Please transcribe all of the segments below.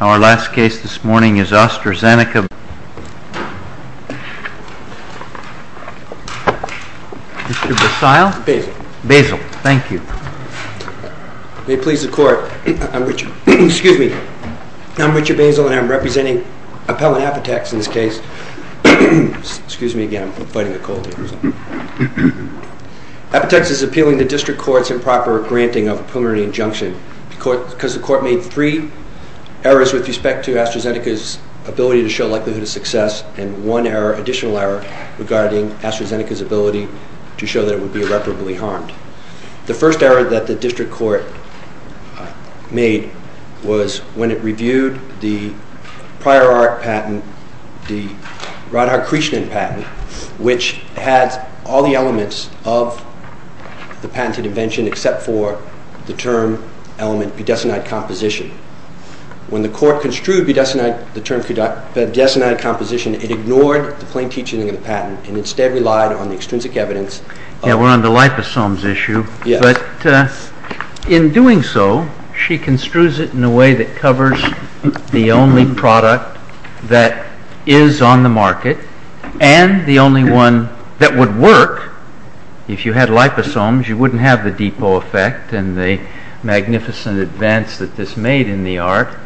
Our last case this morning is AstraZeneca. Mr. Basile? Basil. Basil, thank you. May it please the court, I'm Richard, excuse me. I'm Richard Basile and I'm representing Appellant Apotex in this case. Excuse me again, I'm fighting a cold here or something. Apotex is appealing the district court's improper granting of a preliminary injunction because the court made three errors with respect to AstraZeneca's ability to show likelihood of success and one error, additional error, regarding AstraZeneca's ability to show that it would be irreparably harmed. The first error that the district court made was when it reviewed the prior art patent, the Radhakrishnan patent, which had all the elements of the patented invention except for the term element, budesonide composition. When the court construed the term budesonide composition, it ignored the plain teaching of the patent and instead relied on the extrinsic evidence. Yeah, we're on the liposomes issue, but in doing so, she construes it in a way that covers the only product that is on the market and the only one that would work. If you had liposomes, you wouldn't have the depot effect and the magnificent advance that this made in the art.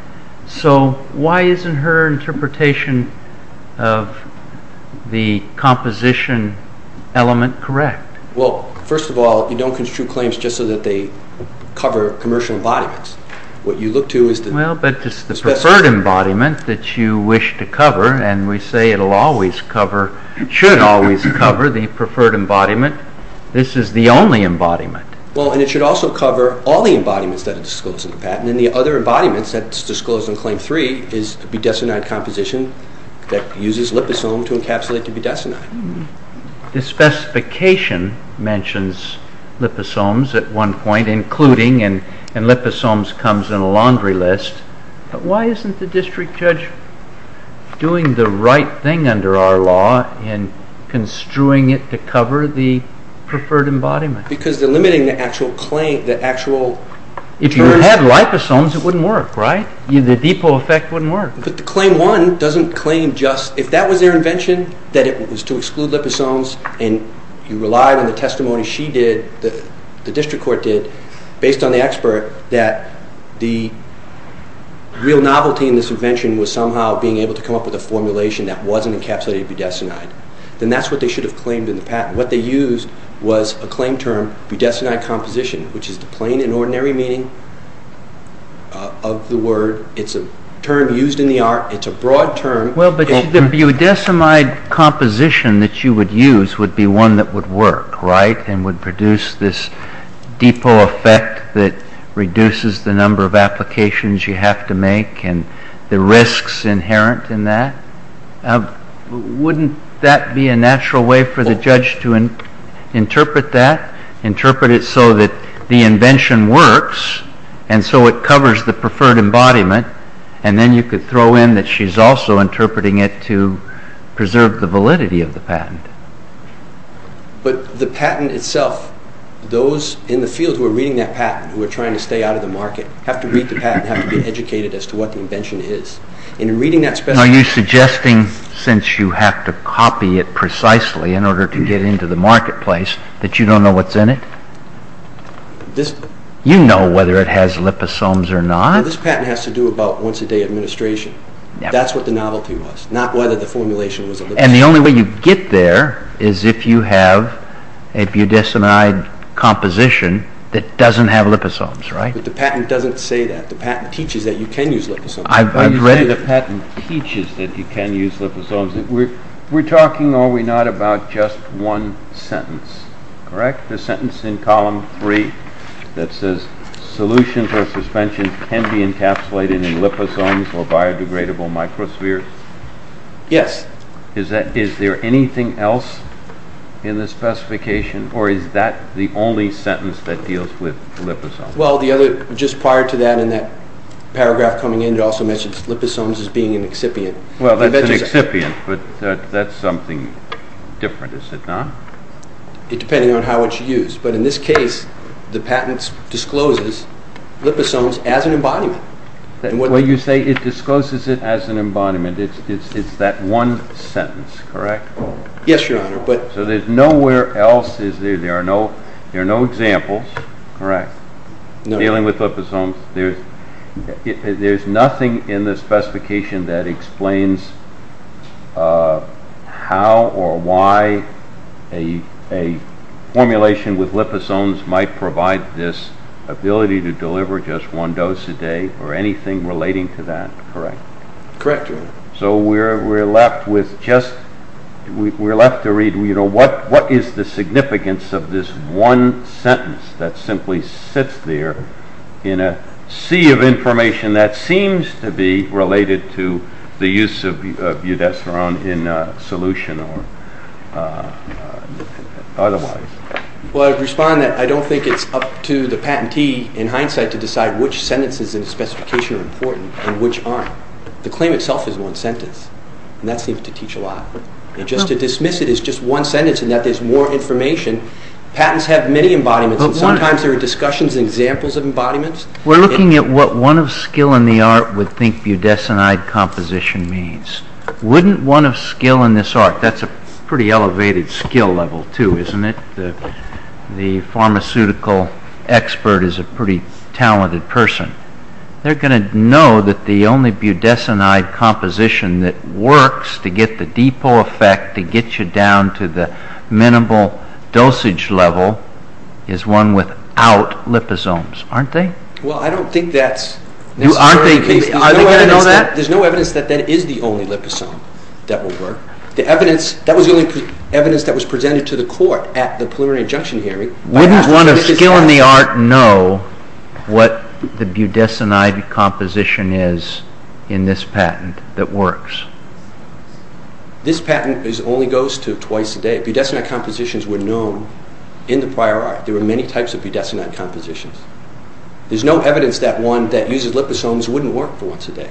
So why isn't her interpretation of the composition element correct? Well, first of all, you don't construe claims just so that they cover commercial embodiments. What you look to is the... Well, but it's the preferred embodiment that you wish to cover and we say it should always cover the preferred embodiment. This is the only embodiment. Well, and it should also cover all the embodiments that are disclosed in the patent and the other embodiments that's disclosed in Claim 3 is a budesonide composition that uses liposome to encapsulate the budesonide. The specification mentions liposomes at one point, including, and liposomes comes in a laundry list, but why isn't the district judge doing the right thing under our law in construing it to cover the preferred embodiment? Because they're limiting the actual claim, the actual... If you had liposomes, it wouldn't work, right? The depot effect wouldn't work. But the Claim 1 doesn't claim just... If that was their invention, that it was to exclude liposomes and you relied on the testimony she did, the district court did, based on the expert that the real novelty in this invention was somehow being able to come up with a formulation that wasn't encapsulated budesonide, then that's what they should have claimed in the patent. What they used was a claim term, budesonide composition, which is the plain and ordinary meaning of the word. It's a term used in the art. It's a broad term. Well, but the budesonide composition that you would use would be one that would work, right, and would produce this depot effect that reduces the number of applications you have to make and the risks inherent in that. Wouldn't that be a natural way for the judge to interpret that, interpret it so that the invention works and so it covers the preferred embodiment and then you could throw in that she's also interpreting it to preserve the validity of the patent. But the patent itself, those in the field who are reading that patent, who are trying to stay out of the market, have to read the patent, have to be educated as to what the invention is. And in reading that special... Are you suggesting, since you have to copy it precisely in order to get into the marketplace, that you don't know what's in it? You know whether it has liposomes or not. This patent has to do about once-a-day administration. That's what the novelty was, not whether the formulation was a liposome. And the only way you get there is if you have a budesonide composition that doesn't have liposomes, right? But the patent doesn't say that. The patent teaches that you can use liposomes. I've read it. The patent teaches that you can use liposomes. We're talking, are we not, about just one sentence, correct? The sentence in column three that says solutions or suspensions can be encapsulated in liposomes or biodegradable microspheres? Yes. Is there anything else in the specification or is that the only sentence that deals with liposomes? Well, just prior to that, in that paragraph coming in, it also mentions liposomes as being an excipient. Well, that's an excipient, but that's something different, is it not? Depending on how it's used. But in this case, the patent discloses liposomes as an embodiment. Well, you say it discloses it as an embodiment. It's that one sentence, correct? Yes, Your Honor. So there's nowhere else, there are no examples, correct, dealing with liposomes? There's nothing in the specification that explains how or why a formulation with liposomes might provide this ability to deliver just one dose a day or anything relating to that, correct? Correct, Your Honor. So we're left with just, we're left to read, what is the significance of this one sentence that simply sits there in a sea of information that seems to be related to the use of budeserone in solution or otherwise? Well, I'd respond that I don't think it's up to the patentee in hindsight to decide which sentences in the specification are important and which aren't. The claim itself is one sentence, and that seems to teach a lot. And just to dismiss it as just one sentence and that there's more information, patents have many embodiments, and sometimes there are discussions and examples of embodiments. We're looking at what one of skill in the art would think budesonide composition means. Wouldn't one of skill in this art, that's a pretty elevated skill level too, isn't it? The pharmaceutical expert is a pretty talented person. They're going to know that the only budesonide composition that works to get the depot effect to get you down to the minimal dosage level is one without liposomes, aren't they? Well, I don't think that's necessary. Aren't they going to know that? There's no evidence that that is the only liposome that will work. That was the only evidence that was presented to the court at the preliminary injunction hearing. Wouldn't one of skill in the art know what the budesonide composition is in this patent that works? This patent only goes to twice a day. There's no evidence that budesonide compositions were known in the prior art. There were many types of budesonide compositions. There's no evidence that one that uses liposomes wouldn't work for once a day.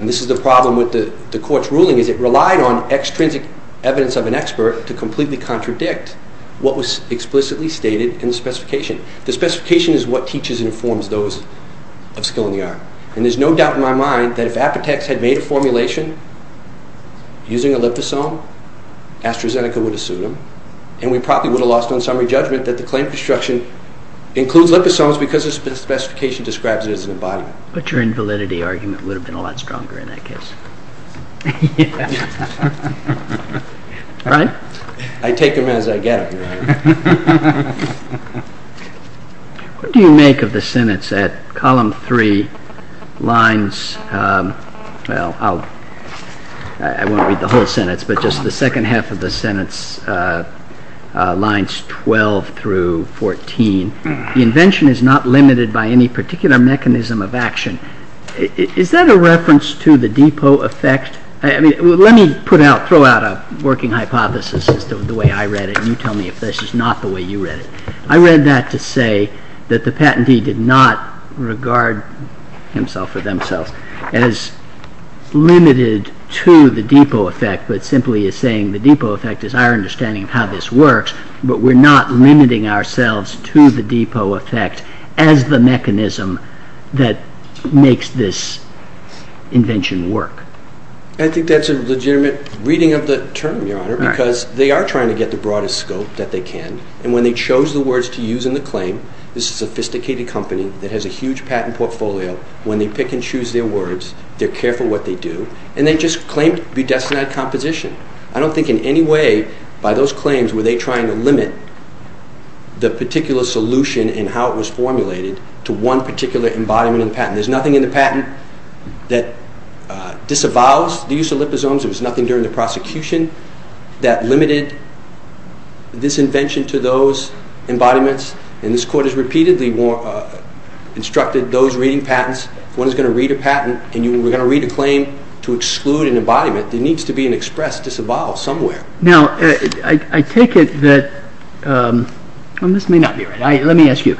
And this is the problem with the court's ruling, is it relied on extrinsic evidence of an expert to completely contradict what was explicitly stated in the specification. The specification is what teaches and informs those of skill in the art. And there's no doubt in my mind that if Apotex had made a formulation using a liposome, AstraZeneca would have sued them, and we probably would have lost on summary judgment that the claim construction includes liposomes because the specification describes it as an embodiment. But your invalidity argument would have been a lot stronger in that case. Yes. Right? I take them as I get them. What do you make of the sentence at column three, lines, well, I won't read the whole sentence, but just the second half of the sentence, lines 12 through 14. The invention is not limited by any particular mechanism of action. Is that a reference to the depot effect? Let me throw out a working hypothesis as to the way I read it, and you tell me if this is not the way you read it. I read that to say that the patentee did not regard himself or themselves as limited to the depot effect, but simply is saying the depot effect is our understanding of how this works, but we're not limiting ourselves to the depot effect as the mechanism that makes this invention work. Right. Because they are trying to get the broadest scope that they can, and when they chose the words to use in the claim, this is a sophisticated company that has a huge patent portfolio. When they pick and choose their words, they're careful what they do, and they just claim to be designated composition. I don't think in any way by those claims were they trying to limit the particular solution and how it was formulated to one particular embodiment of the patent. There's nothing in the patent that disavows the use of liposomes. There was nothing during the prosecution that limited this invention to those embodiments, and this Court has repeatedly instructed those reading patents, if one is going to read a patent, and you were going to read a claim to exclude an embodiment, there needs to be an express disavow somewhere. Now, I take it that, and this may not be right, let me ask you,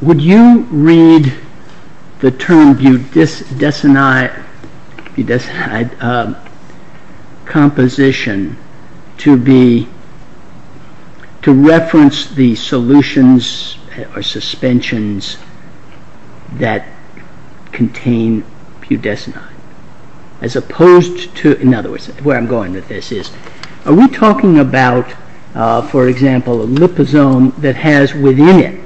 would you read the term budesonide composition to reference the solutions or suspensions that contain budesonide, as opposed to, in other words, where I'm going with this is, are we talking about, for example, a liposome that has within it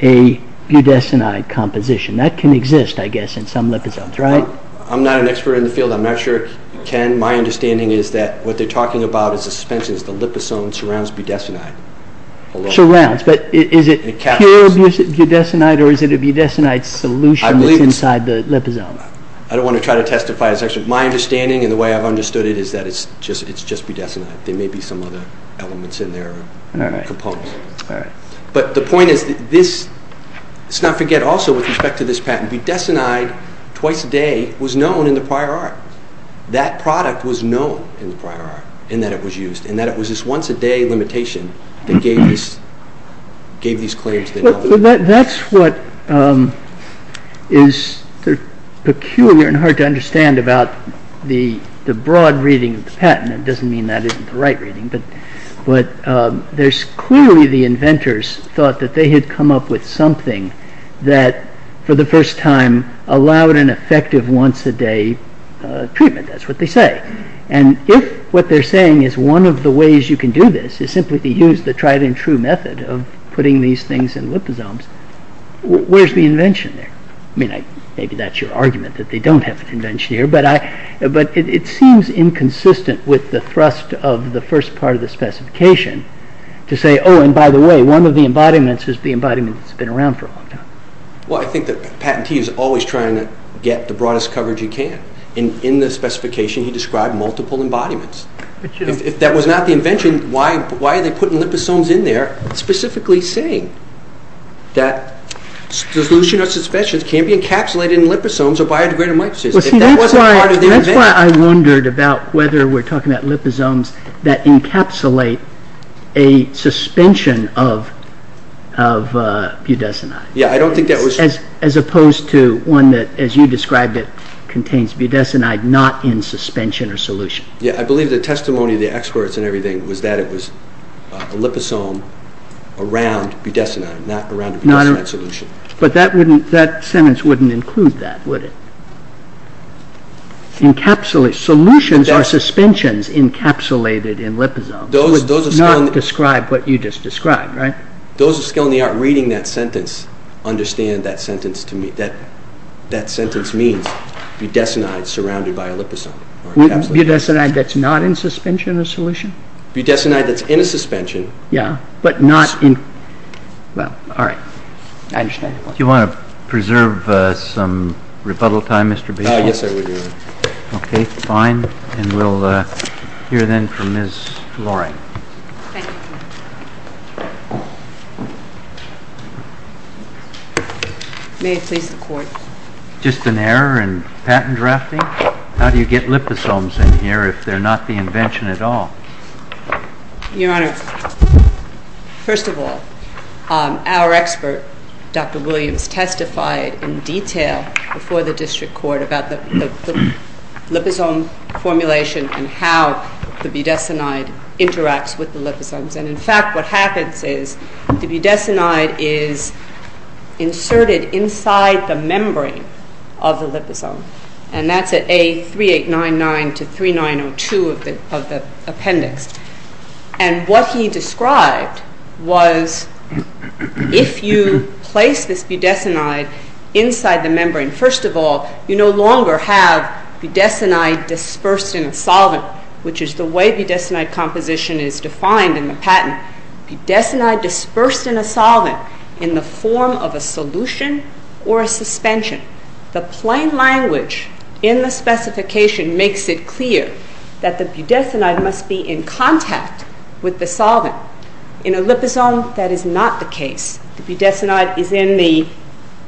a budesonide composition? That can exist, I guess, in some liposomes, right? I'm not an expert in the field, I'm not sure it can. My understanding is that what they're talking about is the suspensions, the liposome surrounds budesonide. Surrounds, but is it pure budesonide, or is it a budesonide solution that's inside the liposome? I don't want to try to testify. My understanding, and the way I've understood it, is that it's just budesonide. There may be some other elements in there, or components. But the point is that this, let's not forget also with respect to this patent, budesonide, twice a day, was known in the prior art. That product was known in the prior art, in that it was used, in that it was this once a day limitation that gave these claims their value. about the broad reading of the patent. It doesn't mean that isn't the right reading, but there's clearly the inventors thought that they had come up with something that for the first time allowed an effective once a day treatment. That's what they say. And if what they're saying is one of the ways you can do this is simply to use the tried and true method of putting these things in liposomes, where's the invention there? Maybe that's your argument, that they don't have an invention here, but it seems inconsistent with the thrust of the first part of the specification to say, oh, and by the way, one of the embodiments is the embodiment that's been around for a long time. Well, I think the patentee is always trying to get the broadest coverage he can. In the specification he described multiple embodiments. If that was not the invention, why are they putting liposomes in there specifically saying that solution or suspensions can't be encapsulated in liposomes or biodegradable mitosis? Well, see, that's why I wondered about whether we're talking about liposomes that encapsulate a suspension of budesonide. Yeah, I don't think that was... As opposed to one that, as you described it, contains budesonide not in suspension or solution. Yeah, I believe the testimony of the experts and everything was that it was a liposome around budesonide, not around a budesonide solution. But that sentence wouldn't include that, would it? Solutions or suspensions encapsulated in liposomes would not describe what you just described, right? Those of skill in the art reading that sentence understand that sentence means budesonide surrounded by a liposome. Budesonide that's not in suspension or solution? Budesonide that's in a suspension... Yeah, but not in... Well, all right. I understand. Do you want to preserve some rebuttal time, Mr. Basile? Yes, I would. Okay, fine. And we'll hear then from Ms. Loring. Thank you. May it please the Court. Just an error in patent drafting? How do you get liposomes in here if they're not the invention at all? Your Honor, first of all, our expert, Dr. Williams, testified in detail before the District Court about the liposome formulation and how the budesonide interacts with the liposomes. And in fact, what happens is the budesonide is inserted inside the membrane of the liposome. And that's at A3899-3902 of the appendix. And what he described was if you place this budesonide inside the membrane, first of all, you no longer have budesonide dispersed in a solvent, which is the way budesonide composition is defined in the patent. Budesonide dispersed in a solvent in the form of a solution or a suspension. The plain language in the specification makes it clear that the budesonide must be in contact with the solvent. In a liposome, that is not the case. The budesonide is in the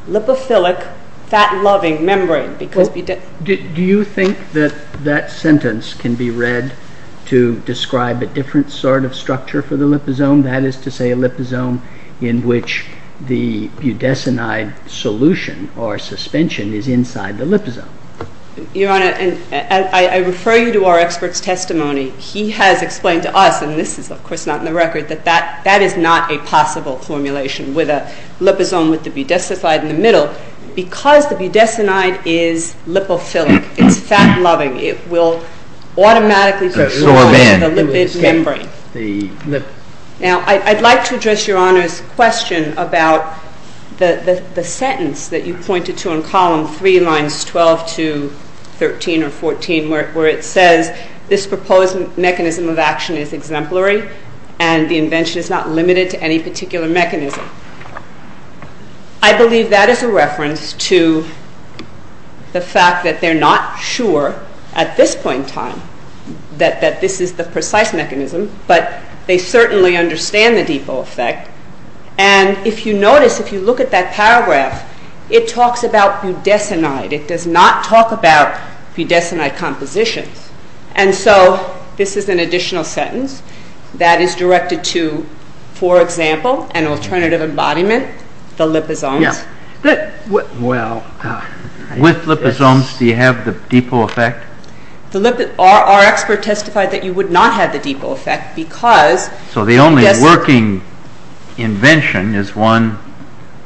lipophilic, fat-loving membrane. Do you think that that sentence can be read to describe a different sort of structure for the liposome? That is to say, a liposome in which the budesonide solution or suspension is inside the liposome. Your Honor, I refer you to our expert's testimony. He has explained to us, and this is of course not in the record, that that is not a possible formulation with a liposome with the budesonide in the middle. Because the budesonide is lipophilic, it's fat-loving, it will automatically control the lipid membrane. Now, I'd like to address Your Honor's question about the sentence that you pointed to in column 3, lines 12 to 13 or 14, where it says this proposed mechanism of action is exemplary and the invention is not limited to any particular mechanism. I believe that is a reference to the fact that they're not sure at this point in time that this is the precise mechanism, but they certainly understand the depot effect. And if you notice, if you look at that paragraph, it talks about budesonide. It does not talk about budesonide compositions. And so this is an additional sentence that is directed to, for example, an alternative embodiment, the liposomes. With liposomes, do you have the depot effect? Our expert testified that you would not have the depot effect because... So the only working invention is one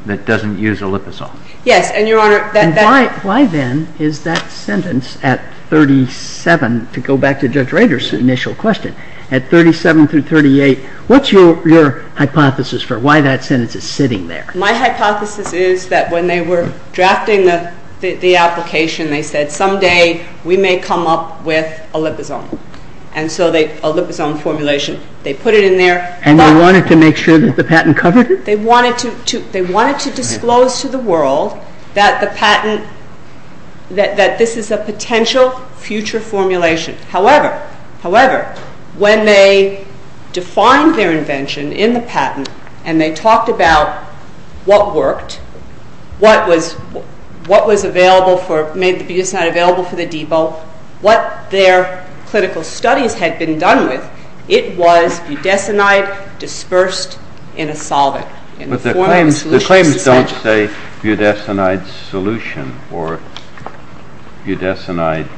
that doesn't use a liposome. Yes, and Your Honor... And why then is that sentence at 37, to go back to Judge Rader's initial question, at 37 through 38, what's your hypothesis for why that sentence is sitting there? My hypothesis is that when they were drafting the application, they said someday we may come up with a liposome. And so a liposome formulation, they put it in there... And they wanted to make sure that the patent covered it? They wanted to disclose to the world that this is a potential future formulation. However, when they defined their invention in the patent and they talked about what worked, what made the budesonide available for the depot, what their clinical studies had been done with, it was budesonide dispersed in a solvent. But the claims don't say budesonide solution or budesonide...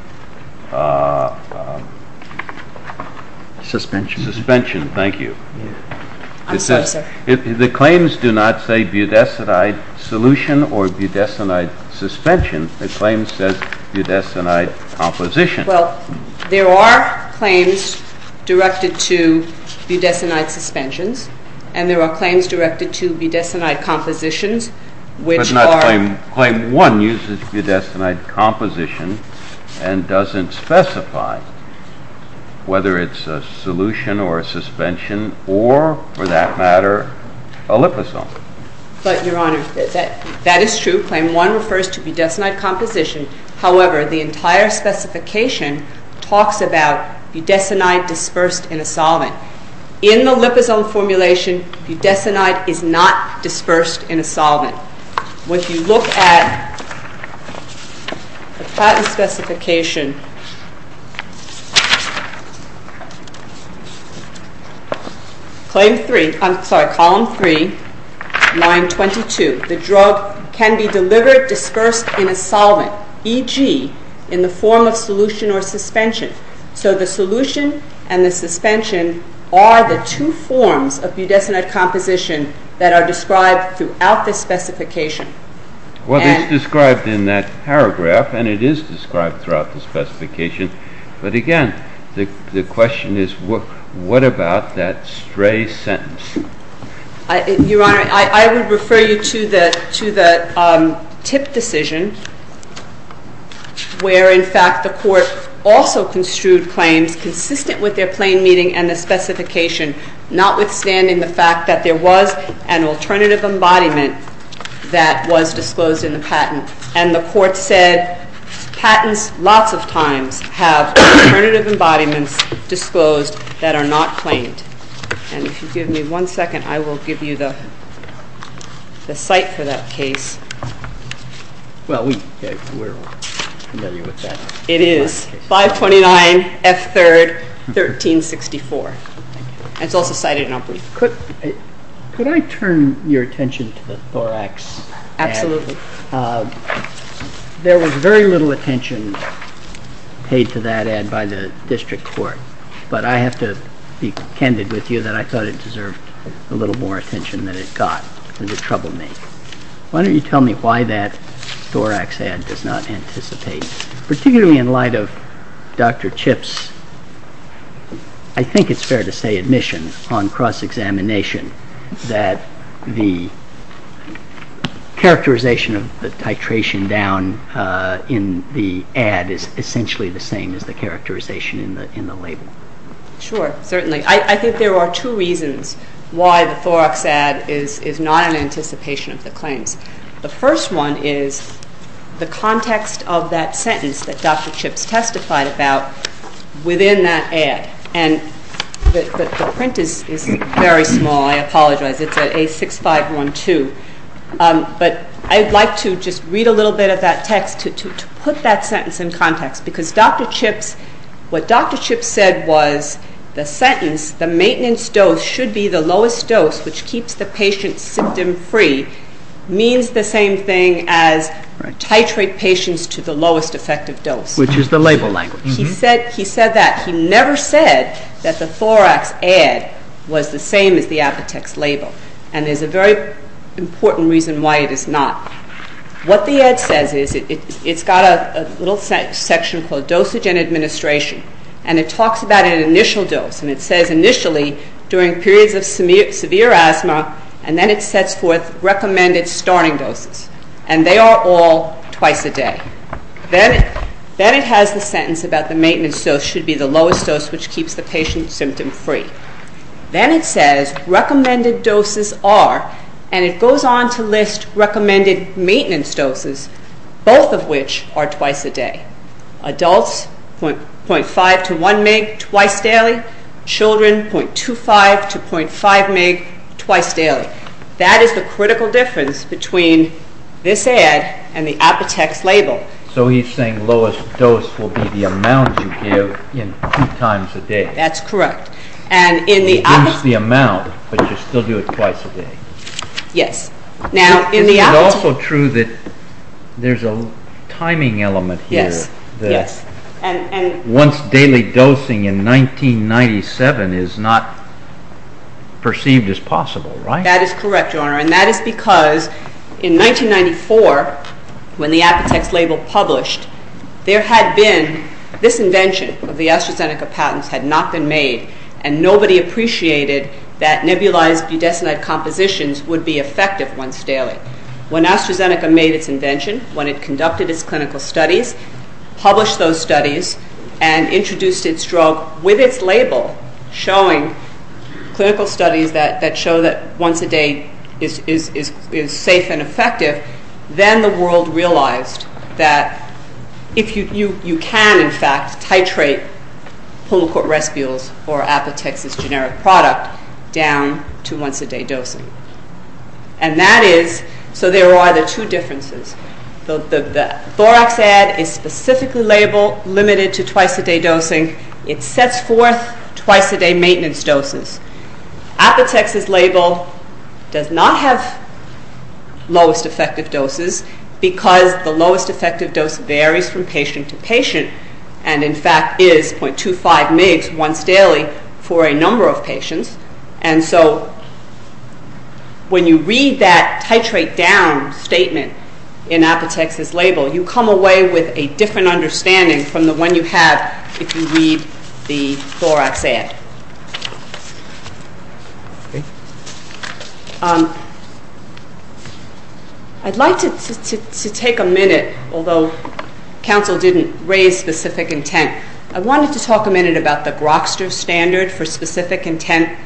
Suspension. Suspension, thank you. I'm sorry, sir. The claims do not say budesonide solution or budesonide suspension. The claim says budesonide composition. Well, there are claims directed to budesonide suspensions and there are claims directed to budesonide compositions, which are... But not claim one uses budesonide composition and doesn't specify whether it's a solution or a suspension or, for that matter, a liposome. But, Your Honor, that is true. Claim one refers to budesonide composition. However, the entire specification talks about budesonide dispersed in a solvent. In the liposome formulation, budesonide is not dispersed in a solvent. When you look at the patent specification... Claim three, I'm sorry, column three, line 22, the drug can be delivered dispersed in a solvent, e.g. in the form of solution or suspension. So the solution and the suspension are the two forms of budesonide composition that are described throughout the specification. Well, it's described in that paragraph and it is described throughout the specification. But again, the question is, what about that stray sentence? Your Honor, I would refer you to the tip decision where, in fact, the Court also construed claims consistent with their plain meaning and the specification, notwithstanding the fact that there was And the Court said, patents lots of times have alternative embodiments disclosed that are not claimed. And if you give me one second, I will give you the cite for that case. Well, we're familiar with that. It is 529 F. 3rd, 1364. It's also cited in our brief. Could I turn your attention to the Thorax? Absolutely. There was very little attention paid to that ad by the District Court. But I have to be candid with you that I thought it deserved a little more attention than it got. It troubled me. Why don't you tell me why that Thorax ad does not anticipate, particularly in light of Dr. Chip's, I think it's fair to say, admission on cross-examination that the characterization of the titration down in the ad is essentially the same as the characterization in the label. Sure, certainly. I think there are two reasons why the Thorax ad is not in anticipation of the claims. The first one is the context of that sentence that Dr. Chip's testified about within that ad. And the print is very small. I apologize. It's at A6512. But I'd like to just read a little bit of that text to put that sentence in context because what Dr. Chip said was the sentence, the maintenance dose should be the lowest dose which keeps the patient symptom-free means the same thing as titrate patients to the lowest effective dose. Which is the label language. He said that. He never said that the Thorax ad was the same as the Apotex label. And there's a very important reason why it is not. What the ad says is it's got a little section called dosage and administration. And it talks about an initial dose. And it says initially during periods of severe asthma and then it sets forth recommended starting doses. And they are all twice a day. Then it has the sentence about the maintenance dose which should be the lowest dose which keeps the patient symptom-free. Then it says recommended doses are and it goes on to list recommended maintenance doses both of which are twice a day. Adults .5 to 1 mg twice daily. Children .25 to .5 mg twice daily. That is the critical difference between this ad and the Apotex label. So he's saying lowest dose will be the amount you give in two times a day. That's correct. And in the... Reduce the amount but you still do it twice a day. Yes. Is it also true that there's a timing element here? Yes. Once daily dosing in 1997 is not perceived as possible, right? That is correct, Your Honor. And that is because in 1994 when the Apotex label published, there had been this invention of the AstraZeneca patents had not been made and nobody appreciated that nebulized budesonide compositions would be effective once daily. When AstraZeneca made its invention, when it conducted its clinical studies, published those studies and introduced its drug with its label showing clinical studies that show that once a day is safe and effective, then the world realized that you can, in fact, titrate pulmicort respials or Apotex's generic product down to once a day dosing. And that is so there are the two differences. The Thorax ad is specifically limited to twice a day dosing. It sets forth twice a day maintenance doses. Apotex's label does not have lowest effective doses because the lowest effective dose varies from patient to patient and, in fact, is .25 mg once daily for a number of patients. And so when you read that titrate down statement in Apotex's label, you come away with a different understanding from the one you have if you read the Thorax ad. I'd like to take a minute, although counsel didn't raise specific intent. I wanted to talk a minute about the Grokster standard for specific intent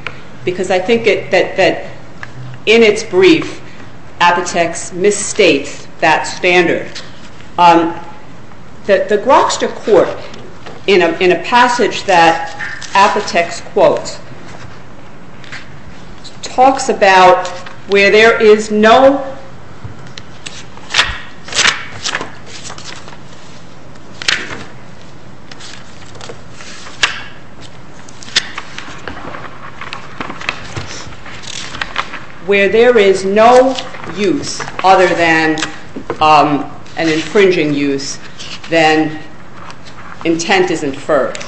because I think that in its brief Apotex misstates that standard. The Grokster court, in a passage that Apotex quotes, talks about where there is no use other than an infringing use, then intent is inferred.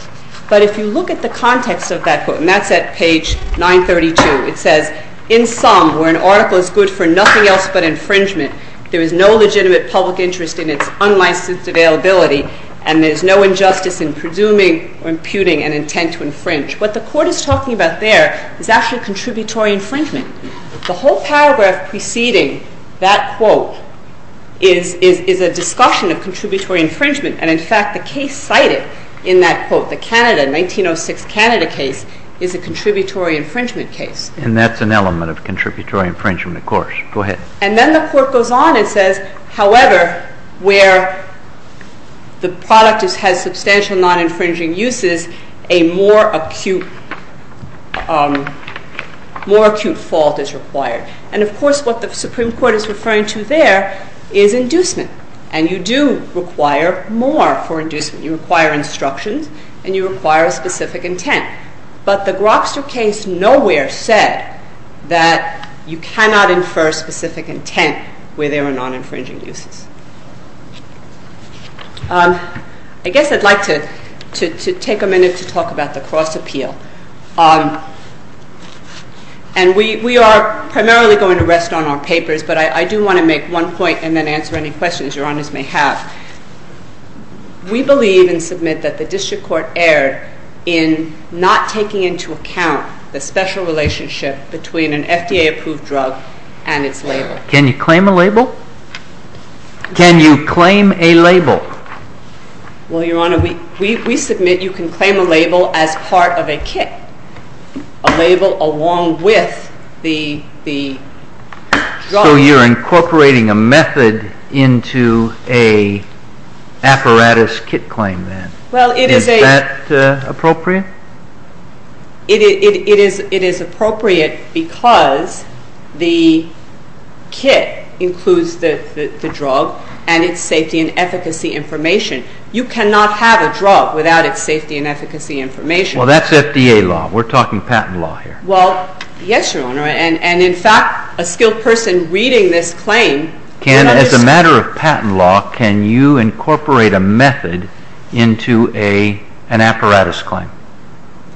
But if you look at the context of that quote, and that's at page 932, it says, in sum, where an article is good for nothing else but infringement, there is no legitimate public interest in its unlicensed availability and there is no injustice in presuming or imputing an intent to infringe. What the court is talking about there is actually contributory infringement. The whole paragraph preceding that quote is a discussion of contributory infringement and, in fact, the case cited in that quote, the 1906 Canada case, is a contributory infringement case. And that's an element of contributory infringement, of course. And then the court goes on and says, however, where the product has substantial non-infringing uses, a more acute fault is required. And, of course, what the Supreme Court is referring to there is inducement and you do require more for inducement. You require instructions and you require a specific intent. But the Grobster case nowhere said that you cannot infer specific intent where there are non-infringing uses. I guess I'd like to take a minute to talk about the cross-appeal. And we are primarily going to rest on our papers, but I do want to make one point and then answer any questions Your Honors may have. We believe and submit that the district court erred in not taking into account the special relationship between an FDA-approved drug and its label. Can you claim a label? Can you claim a label? Well, Your Honor, we submit you can claim a label as part of a kit, a label along with the drug. So you're incorporating a method into an apparatus kit claim then. Is that appropriate? It is appropriate because the kit includes the drug and its safety and efficacy information. You cannot have a drug without its safety and efficacy information. Well, that's FDA law. We're talking patent law here. Well, yes, Your Honor. And, in fact, a skilled person reading this claim can understand. As a matter of patent law, can you incorporate a method into an apparatus claim?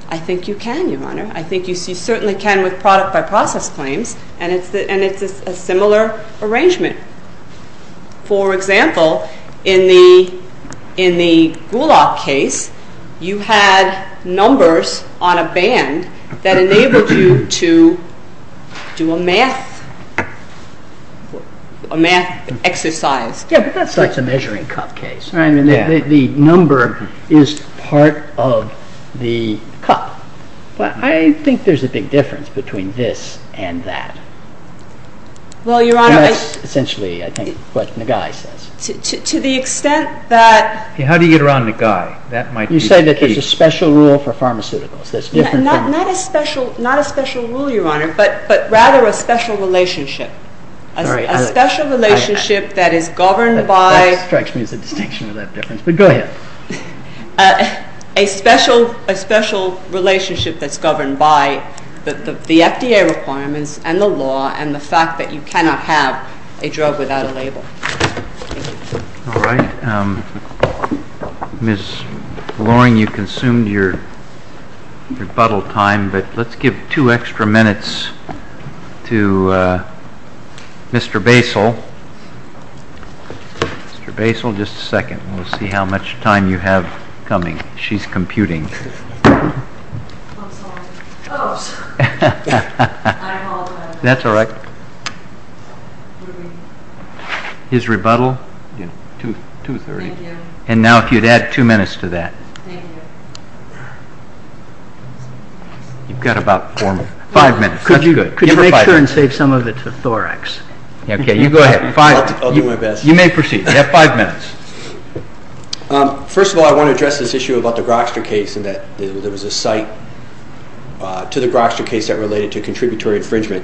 I think you can, Your Honor. I think you certainly can with product-by-process claims, and it's a similar arrangement. For example, in the Gulag case, you had numbers on a band that enabled you to do a math exercise. Yes, but that's a measuring cup case. The number is part of the cup. I think there's a big difference between this and that. That's essentially, I think, what Nagai says. To the extent that— How do you get around Nagai? You say that there's a special rule for pharmaceuticals. Not a special rule, Your Honor, but rather a special relationship. A special relationship that is governed by— That strikes me as a distinction without difference, but go ahead. A special relationship that's governed by the FDA requirements and the law and the fact that you cannot have a drug without a label. All right. Ms. Loring, you consumed your rebuttal time, but let's give two extra minutes to Mr. Baisel. We'll see how much time you have coming. She's computing. I'm sorry. I'm all done. That's all right. His rebuttal? 2.30. Thank you. And now if you'd add two minutes to that. Thank you. You've got about five minutes. Could you make sure and save some of it for Thorax? Okay, you go ahead. I'll do my best. You may proceed. You have five minutes. First of all, I want to address this issue about the Grokster case and that there was a cite to the Grokster case that related to contributory infringement.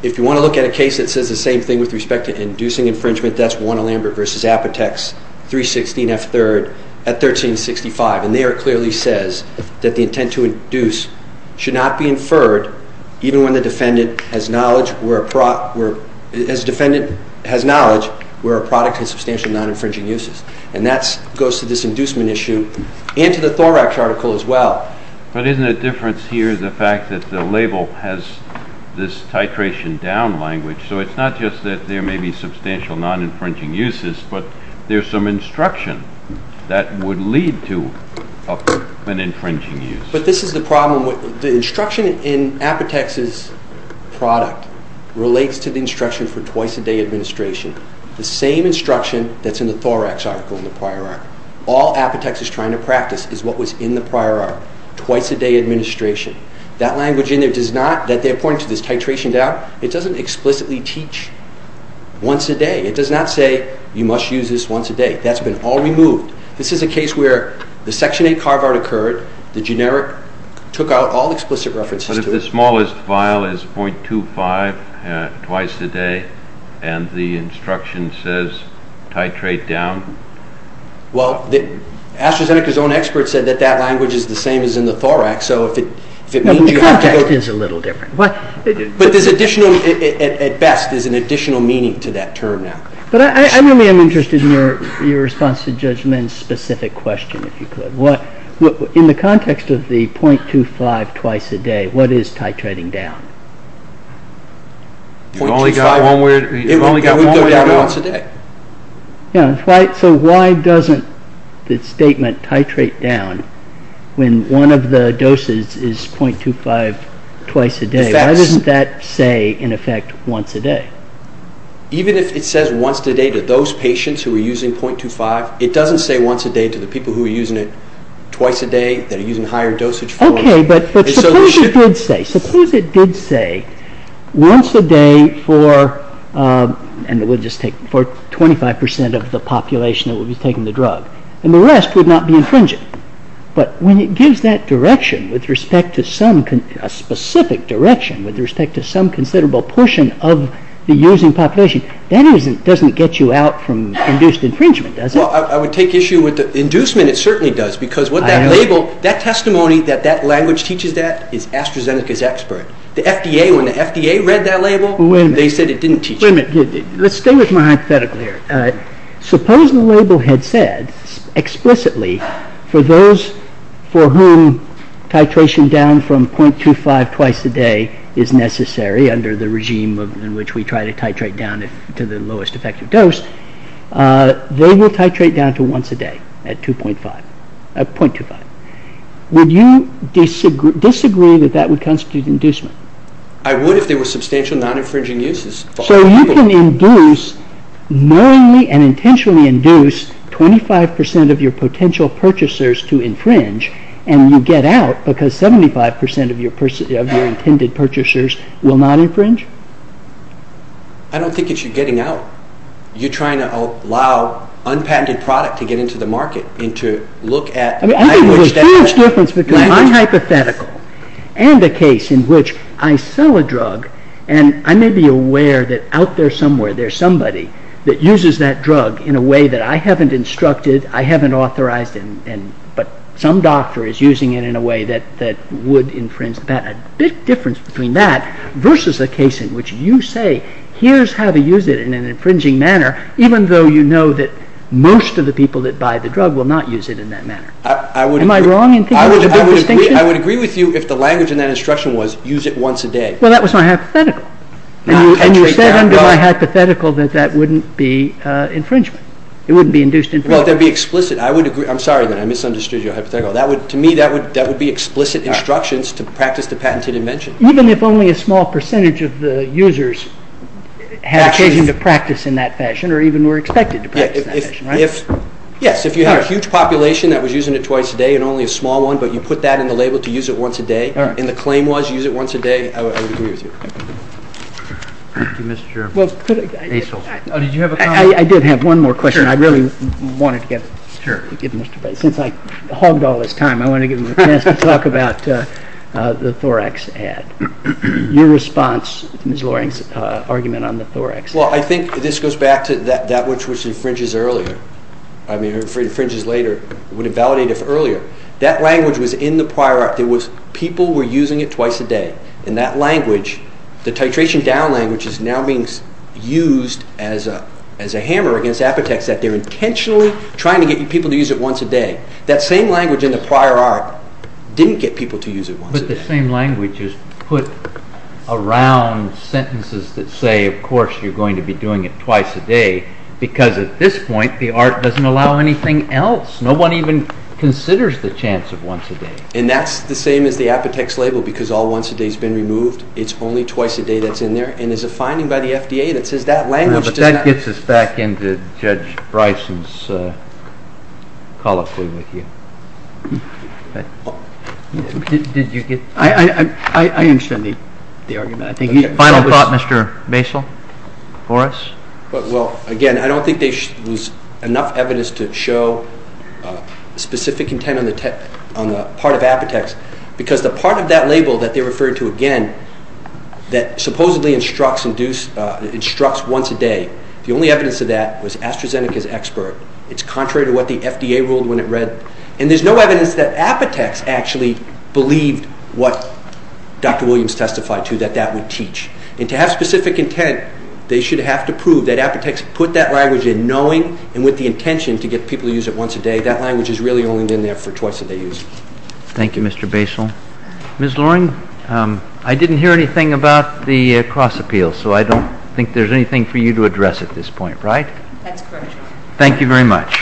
If you want to look at a case that says the same thing with respect to inducing infringement, that's Warner-Lambert v. Apotex, 316F3rd at 1365. And there it clearly says that the intent to induce should not be inferred even when the defendant has knowledge where a product has substantial non-infringing uses. And that goes to this inducement issue and to the Thorax article as well. But isn't the difference here the fact that the label has this titration down language? So it's not just that there may be substantial non-infringing uses, but there's some instruction that would lead to an infringing use. But this is the problem. The instruction in Apotex's product relates to the instruction for twice-a-day administration, the same instruction that's in the Thorax article in the prior article. All Apotex is trying to practice is what was in the prior article, twice-a-day administration. That language in there does not, that they're pointing to this titration down, it doesn't explicitly teach once a day. It does not say you must use this once a day. That's been all removed. This is a case where the Section 8 carve-out occurred, the generic, took out all explicit references to it. But if the smallest file is .25 twice-a-day and the instruction says titrate down? Well, AstraZeneca's own expert said that that language is the same as in the Thorax, so if it means you have to go... The context is a little different. But there's additional, at best, there's an additional meaning to that term now. But I really am interested in your response to Judge Menn's specific question, if you could. In the context of the .25 twice-a-day, what is titrating down? We've only got one way out. It would go down once a day. Yeah, so why doesn't the statement titrate down when one of the doses is .25 twice-a-day? Why doesn't that say, in effect, once a day? Even if it says once a day to those patients who are using .25, it doesn't say once a day to the people who are using it twice a day, that are using higher dosage forms. Okay, but suppose it did say once a day for 25% of the population that would be taking the drug, and the rest would not be infringing. But when it gives that direction, a specific direction, with respect to some considerable portion of the using population, that doesn't get you out from induced infringement, does it? Well, I would take issue with the inducement, it certainly does, because what that label, that testimony that that language teaches that is AstraZeneca's expert. The FDA, when the FDA read that label, they said it didn't teach it. Wait a minute, let's stay with my hypothetical here. Suppose the label had said, explicitly, for those for whom titration down from .25 twice-a-day is necessary under the regime in which we try to titrate down to the lowest effective dose, they will titrate down to once a day at .25. Would you disagree that that would constitute inducement? I would if there were substantial non-infringing uses. So you can induce, knowingly and intentionally induce, 25% of your potential purchasers to infringe, and you get out because 75% of your intended purchasers will not infringe? I don't think it's you getting out. You're trying to allow unpatented product to get into the market and to look at... I think there's a huge difference between my hypothetical and the case in which I sell a drug, and I may be aware that out there somewhere there's somebody that uses that drug in a way that I haven't instructed, I haven't authorized, but some doctor is using it in a way that would infringe. There's a big difference between that versus a case in which you say, here's how to use it in an infringing manner, even though you know that most of the people that buy the drug will not use it in that manner. Am I wrong in thinking there's a big distinction? I would agree with you if the language in that instruction was, use it once a day. Well, that was my hypothetical. And you said under my hypothetical that that wouldn't be infringement. It wouldn't be induced infringement. I'm sorry that I misunderstood your hypothetical. To me, that would be explicit instructions to practice the patented invention. Even if only a small percentage of the users had occasion to practice in that fashion, or even were expected to practice in that fashion, right? Yes, if you had a huge population that was using it twice a day and only a small one, but you put that in the label to use it once a day, and the claim was use it once a day, I would agree with you. Thank you, Mr. Asil. Did you have a comment? I did have one more question. I really wanted to get Mr. Bates. Since I hogged all this time, I want to give him a chance to talk about the Thorax ad. Your response to Ms. Loring's argument on the Thorax? Well, I think this goes back to that which infringes earlier. I mean, infringes later, would invalidate if earlier. That language was in the prior act. It was people were using it twice a day. In that language, the titration down language is now being used as a hammer against Apotex that they're intentionally trying to get people to use it once a day. That same language in the prior art didn't get people to use it once a day. But the same language is put around sentences that say, of course you're going to be doing it twice a day, because at this point the art doesn't allow anything else. No one even considers the chance of once a day. And that's the same as the Apotex label, because all once a day has been removed. It's only twice a day that's in there. And there's a finding by the FDA that says that language does not— But that gets us back into Judge Bryson's call of duty with you. I understand the argument. Final thought, Mr. Basile, for us? Well, again, I don't think there's enough evidence to show specific intent on the part of Apotex, because the part of that label that they referred to again, that supposedly instructs once a day, the only evidence of that was AstraZeneca's expert. It's contrary to what the FDA ruled when it read. And there's no evidence that Apotex actually believed what Dr. Williams testified to, that that would teach. And to have specific intent, they should have to prove that Apotex put that language in, knowing and with the intention to get people to use it once a day. That language has really only been there for twice a day use. Thank you, Mr. Basile. Ms. Loring, I didn't hear anything about the cross-appeal, so I don't think there's anything for you to address at this point, right? That's correct, Your Honor. Thank you very much.